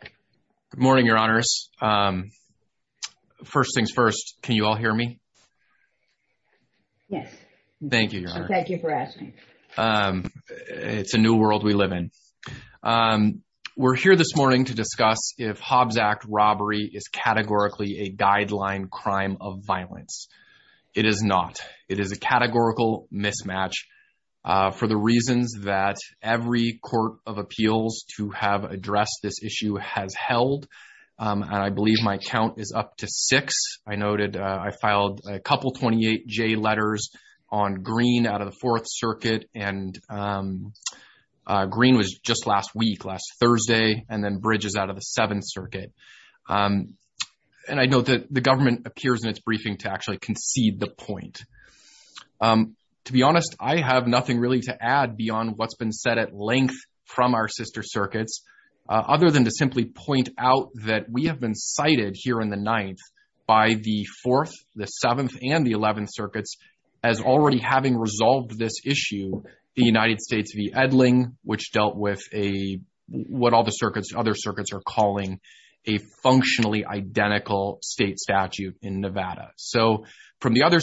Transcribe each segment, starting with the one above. Good morning, your honors. First things first, can you all hear me? Yes. Thank you. Thank you for asking. It's a new world we live in. We're here this morning to discuss if Hobbs Act robbery is categorically a guideline crime of violence. It is not. It is a categorical mismatch for the reasons that every court of appeals to have addressed this issue has held, and I believe my count is up to six. I noted I filed a couple 28 J letters on Green out of the Fourth Circuit, and Green was just last week, last Thursday, and then Bridges out of the Seventh Circuit. And I know that the government appears in its briefing to actually concede the point. To be honest, I have nothing really to add beyond what's been said at length from our sister circuits, other than to simply point out that we have been cited here in the Ninth by the Fourth, the Seventh, and the Eleventh Circuits as already having resolved this issue, the United States v. Edling, which dealt with a, what all the circuits, other circuits, are calling a functionally identical state statute in Nevada. So from the other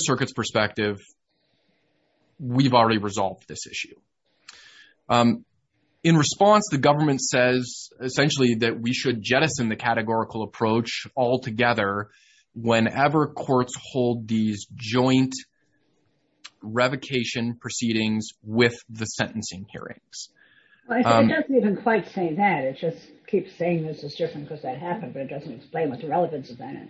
In response, the government says essentially that we should jettison the categorical approach altogether whenever courts hold these joint revocation proceedings with the sentencing hearings. It doesn't even quite say that. It just keeps saying this is different because that happened, but it doesn't explain what the relevance of that is.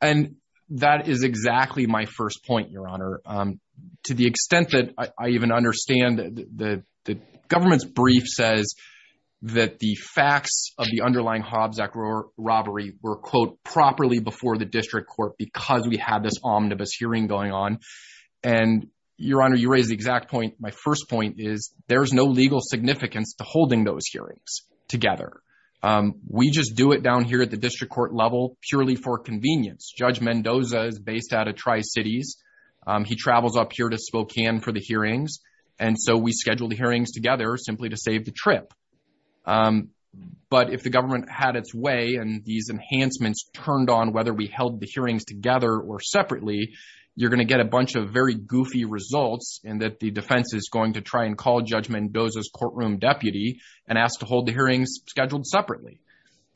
And that is exactly my first point, Your Honor. To the extent that I even understand that the government's brief says that the facts of the underlying Hobbs Act robbery were, quote, properly before the district court because we had this omnibus hearing going on. And, Your Honor, you raise the exact point. My first point is there's no legal significance to holding those hearings together. We just do it down here at the district court level purely for convenience. Judge Mendoza is based out of Tri-Cities. He travels up here to And so we schedule the hearings together simply to save the trip. But if the government had its way and these enhancements turned on whether we held the hearings together or separately, you're going to get a bunch of very goofy results in that the defense is going to try and call Judge Mendoza's courtroom deputy and ask to hold the hearings scheduled separately.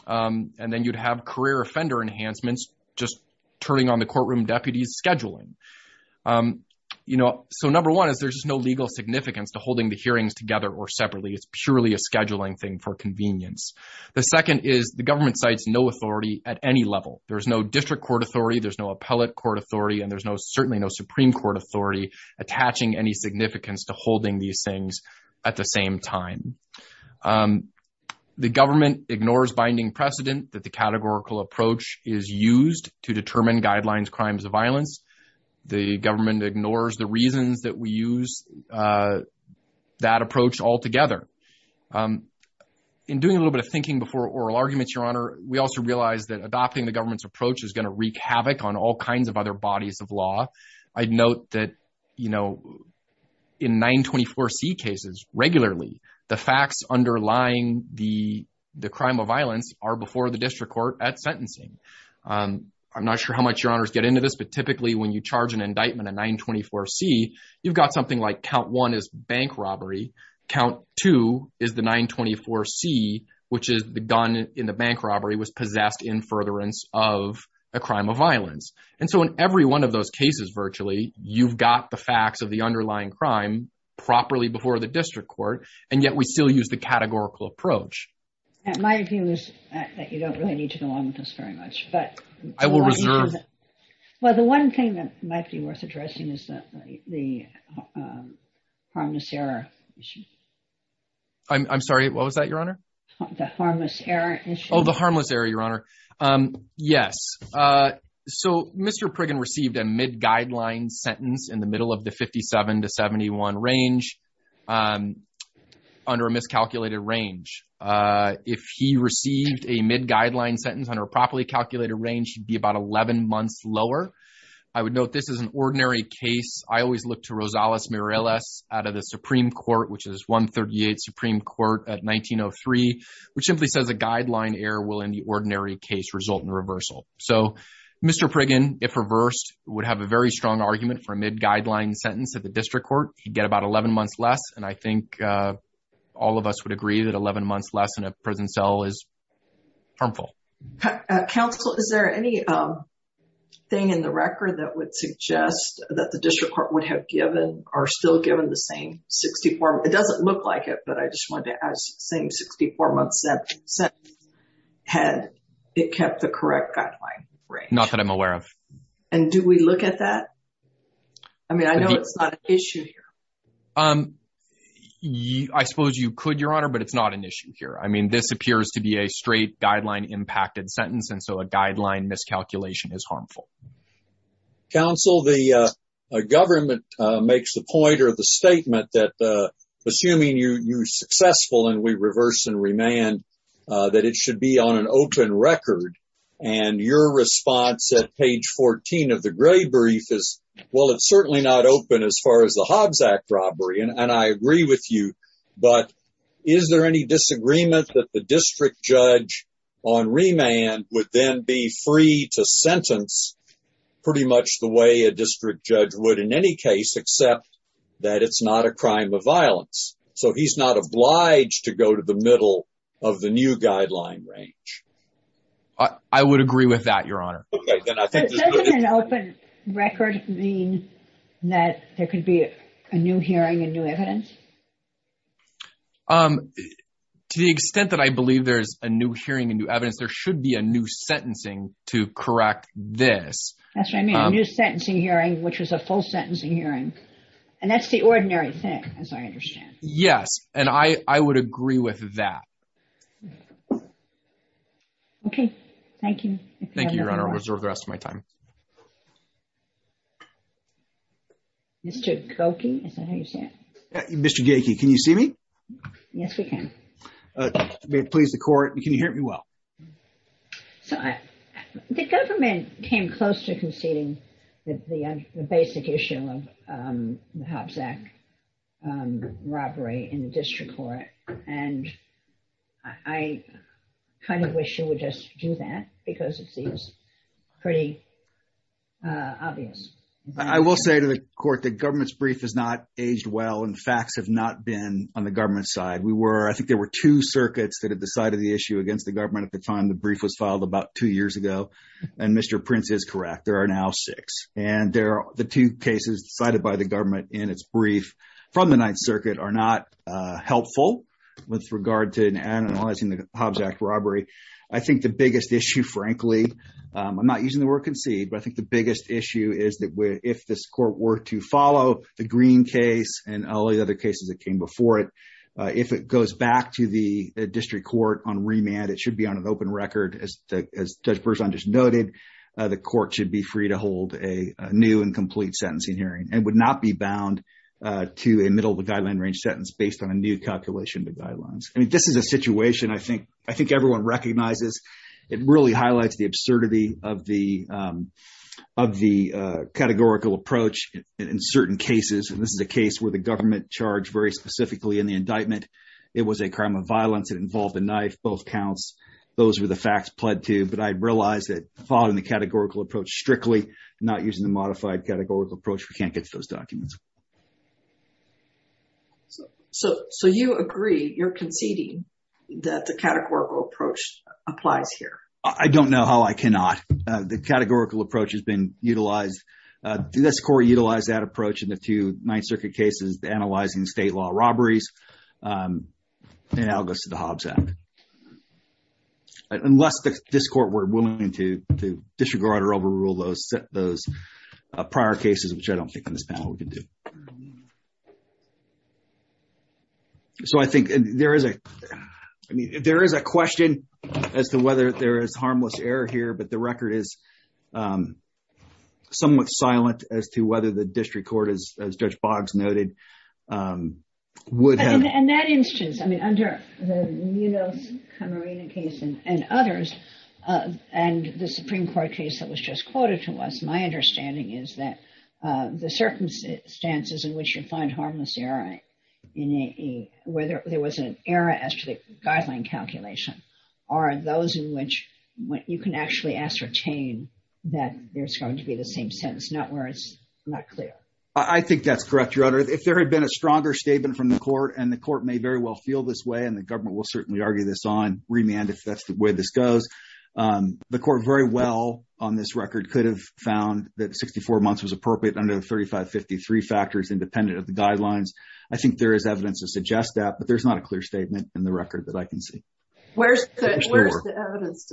And then you'd have career offender enhancements just turning on the courtroom deputies scheduling. You know, so number one is there's just no legal significance to holding the hearings together or separately. It's purely a scheduling thing for convenience. The second is the government cites no authority at any level. There is no district court authority. There's no appellate court authority, and there's no certainly no Supreme Court authority attaching any significance to holding these things at the same time. The government ignores binding precedent that the categorical approach is used to determine guidelines, crimes of violence. The government ignores the reasons that we use, uh, that approach altogether. Um, in doing a little bit of thinking before oral arguments, Your Honor, we also realized that adopting the government's approach is going to wreak havoc on all kinds of other bodies of law. I'd note that, you know, in 924 C cases regularly, the facts underlying the crime of violence are before the district court at sentencing. Um, I'm not sure how much Your Honor's get into this, but typically when you charge an indictment of 924 C, you've got something like count one is bank robbery. Count two is the 924 C, which is the gun in the bank robbery was possessed in furtherance of a crime of violence. And so in every one of those cases, virtually you've got the facts of the underlying crime properly before the district court. And yet we still use the categorical approach. My view is that you don't really need to go on with this very much, but I will reserve. Well, the one thing that might be worth addressing is that the, um, harmless error. I'm sorry. What was that, Your Honor? The harmless error. Oh, the harmless area, Your Honor. Um, yes. Uh, so Mr Priggen received a mid guidelines sentence in the middle of the 57 to 71 range, um, under a miscalculated range. Uh, if he received a mid guideline sentence on her properly calculated range, he'd be about 11 months lower. I would note this is an ordinary case. I always look to Rosales Mireles out of the Supreme Court, which is 138 Supreme Court at 1903, which simply says a guideline error will in the ordinary case result in reversal. So Mr Priggen, if reversed, would have a very strong argument for a mid guideline sentence at the district court. He'd get about 11 months less. And I think, uh, all of us would agree that 11 months less in a prison cell is harmful. Uh, counsel, is there any, um, thing in the record that would suggest that the district court would have given, or still given the same 64? It doesn't look like it, but I just wanted to ask, same 64 month sentence, had it kept the correct guideline range? Not that I'm aware of. And do we look at that? I mean, I know it's not an issue here. Um, I suppose you could, Your Honor, but it's not an issue here. I mean, this appears to be a straight guideline impacted sentence, and so a guideline miscalculation is harmful. Counsel, the government makes the point or the statement that, uh, assuming you you successful and we reverse and remand, uh, that it should be on an open record and your response at page 14 of the gray brief is, well, it's certainly not open as far as the Hobbs Act robbery. And I agree with you. But is there any disagreement that the district judge on remand would then be free to sentence pretty much the way a district judge would in any case, except that it's not a crime of violence. So he's not obliged to go to the middle of the new guideline range. I would agree with that, Your Honor. Okay, then I think that there could be a new hearing and new evidence. Um, to the extent that I believe there's a new hearing and new evidence, there should be a new sentencing to correct this. That's what I mean. A new sentencing hearing, which was a full sentencing hearing. And that's the ordinary thing, as I understand. Yes. And I would agree with that. Okay. Thank you. Thank you, Your Honor. Reserve the rest of my time. Mr. Gokey, is that how you say it? Mr. Gokey, can you see me? Yes, we can. May it please the court. Can you hear me well? So the government came close to conceding the basic issue of the Hobbs Act robbery in the district court. And I kind of wish you would just do that because it seems pretty obvious. I will say to the court that government's brief has not aged well and facts have not been on the government side. We were, I think there were two circuits that have decided the issue against the government at the time the brief was filed about two years ago. And Mr. Prince is correct. There are now six. And there are the two cases decided by the government in its brief from the Ninth Circuit are not helpful with regard to analyzing the Hobbs Act robbery. I think the biggest issue, frankly, I'm not using the word concede, but I think the biggest issue is that if this court were to follow the Green case and all the other cases that came before it, if it goes back to the district court on remand, it should be on an open record. As Judge Berzon just noted, the court should be free to hold a new and complete sentencing hearing and would not be bound to a middle of the guideline range sentence based on a new calculation of the guidelines. I mean, this is a situation I think everyone recognizes. It really highlights the absurdity of the of the categorical approach in certain cases. And this is a case where the government charged very specifically in the indictment. It was a crime of violence. It involved a knife, both counts. Those were the facts pled to. But I realized that following the categorical approach strictly, not using the modified categorical approach, we can't get to those documents. So, so, so you agree, you're conceding that the categorical approach applies here? I don't know how I cannot. The categorical approach has been utilized. This court utilized that approach in the two Ninth Circuit cases, analyzing state law robberies, and now it goes to the Hobbs Act. Unless this court were willing to disregard or overrule those those prior cases, which I don't think in this panel we can do. So I think there is a, I mean, there is a question as to whether there is harmless error here, but the record is somewhat silent as to whether the district court is, as Judge Boggs noted, would have. In that instance, I mean, under the Munoz Camarena case and others, and the Supreme Court case that was just quoted to us, my understanding is that the circumstances in which you find harmless error, whether there was an error as to the guideline calculation, are those in which you can actually ascertain that there's going to be the same sentence, not where it's not clear. I think that's correct, Your Honor. If there had been a stronger statement from the court, and the court may very well feel this way, and the government will certainly argue this on remand if that's the way this goes, the court very well on this record could have found that 64 months was appropriate under the 3553 factors independent of the guidelines. I think there is evidence to suggest that, but there's not a clear statement in the record that I can see. Where's the evidence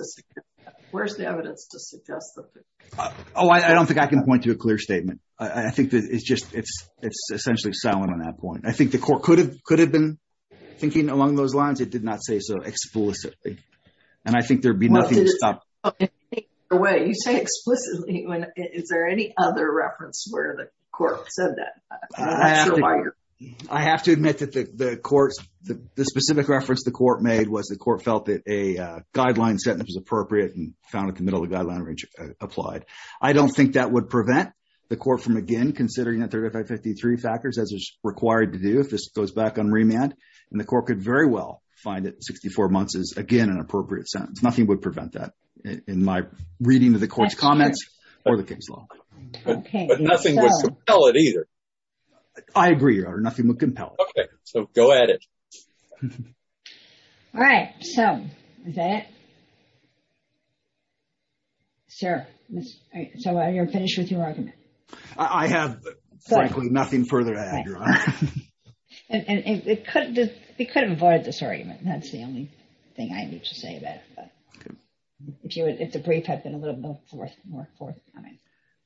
to suggest that? Oh, I don't think I can point to a clear statement. I think that it's just, it's essentially silent on that point. I think the court could have been thinking along those lines. It did not say so explicitly. And I think there'd be nothing to stop. Wait, you say explicitly, is there any other reference where the court said that? I have to admit that the court's, the specific reference the court made was the court felt that a guideline sentence was appropriate and found at the middle of the guideline range applied. I don't think that would prevent the court from, again, considering the 3553 factors as is required to do if this goes back on remand, and the court could very well find that 64 months is, again, an appropriate sentence. Nothing would prevent that. In my reading of the court's comments or the case law. But nothing would compel it either. I agree, Your Honor. Nothing would compel it. Okay. So go at it. All right. So, is that it? Sir, so you're finished with your argument? I have, frankly, nothing further to add, Your Honor. And it could have avoided this argument. That's the only thing I need to say about it. If you would, if the brief had been a little bit more forthcoming.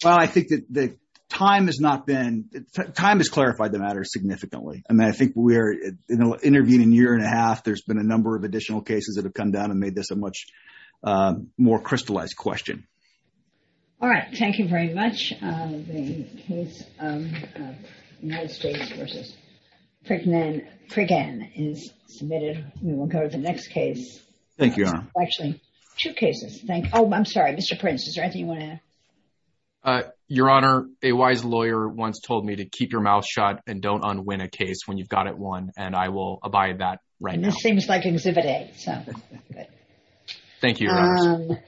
Well, I think that the time has not been, time has clarified the matter significantly. I mean, I think we're, you know, interviewing a year and a half. There's been a number of additional cases that have come down and made this a much more crystallized question. All right. Thank you very much. The case of United States versus Priggan is submitted. We will go to the next case. Thank you, Your Honor. Actually, two cases. Thank you. Oh, I'm sorry. Mr. Prince, is there anything you want to add? Your Honor, a wise lawyer once told me to keep your mouth shut and don't unwin a case when you've got it won. And I will abide that right now. This seems like exhibit A, so. Thank you, Your Honor.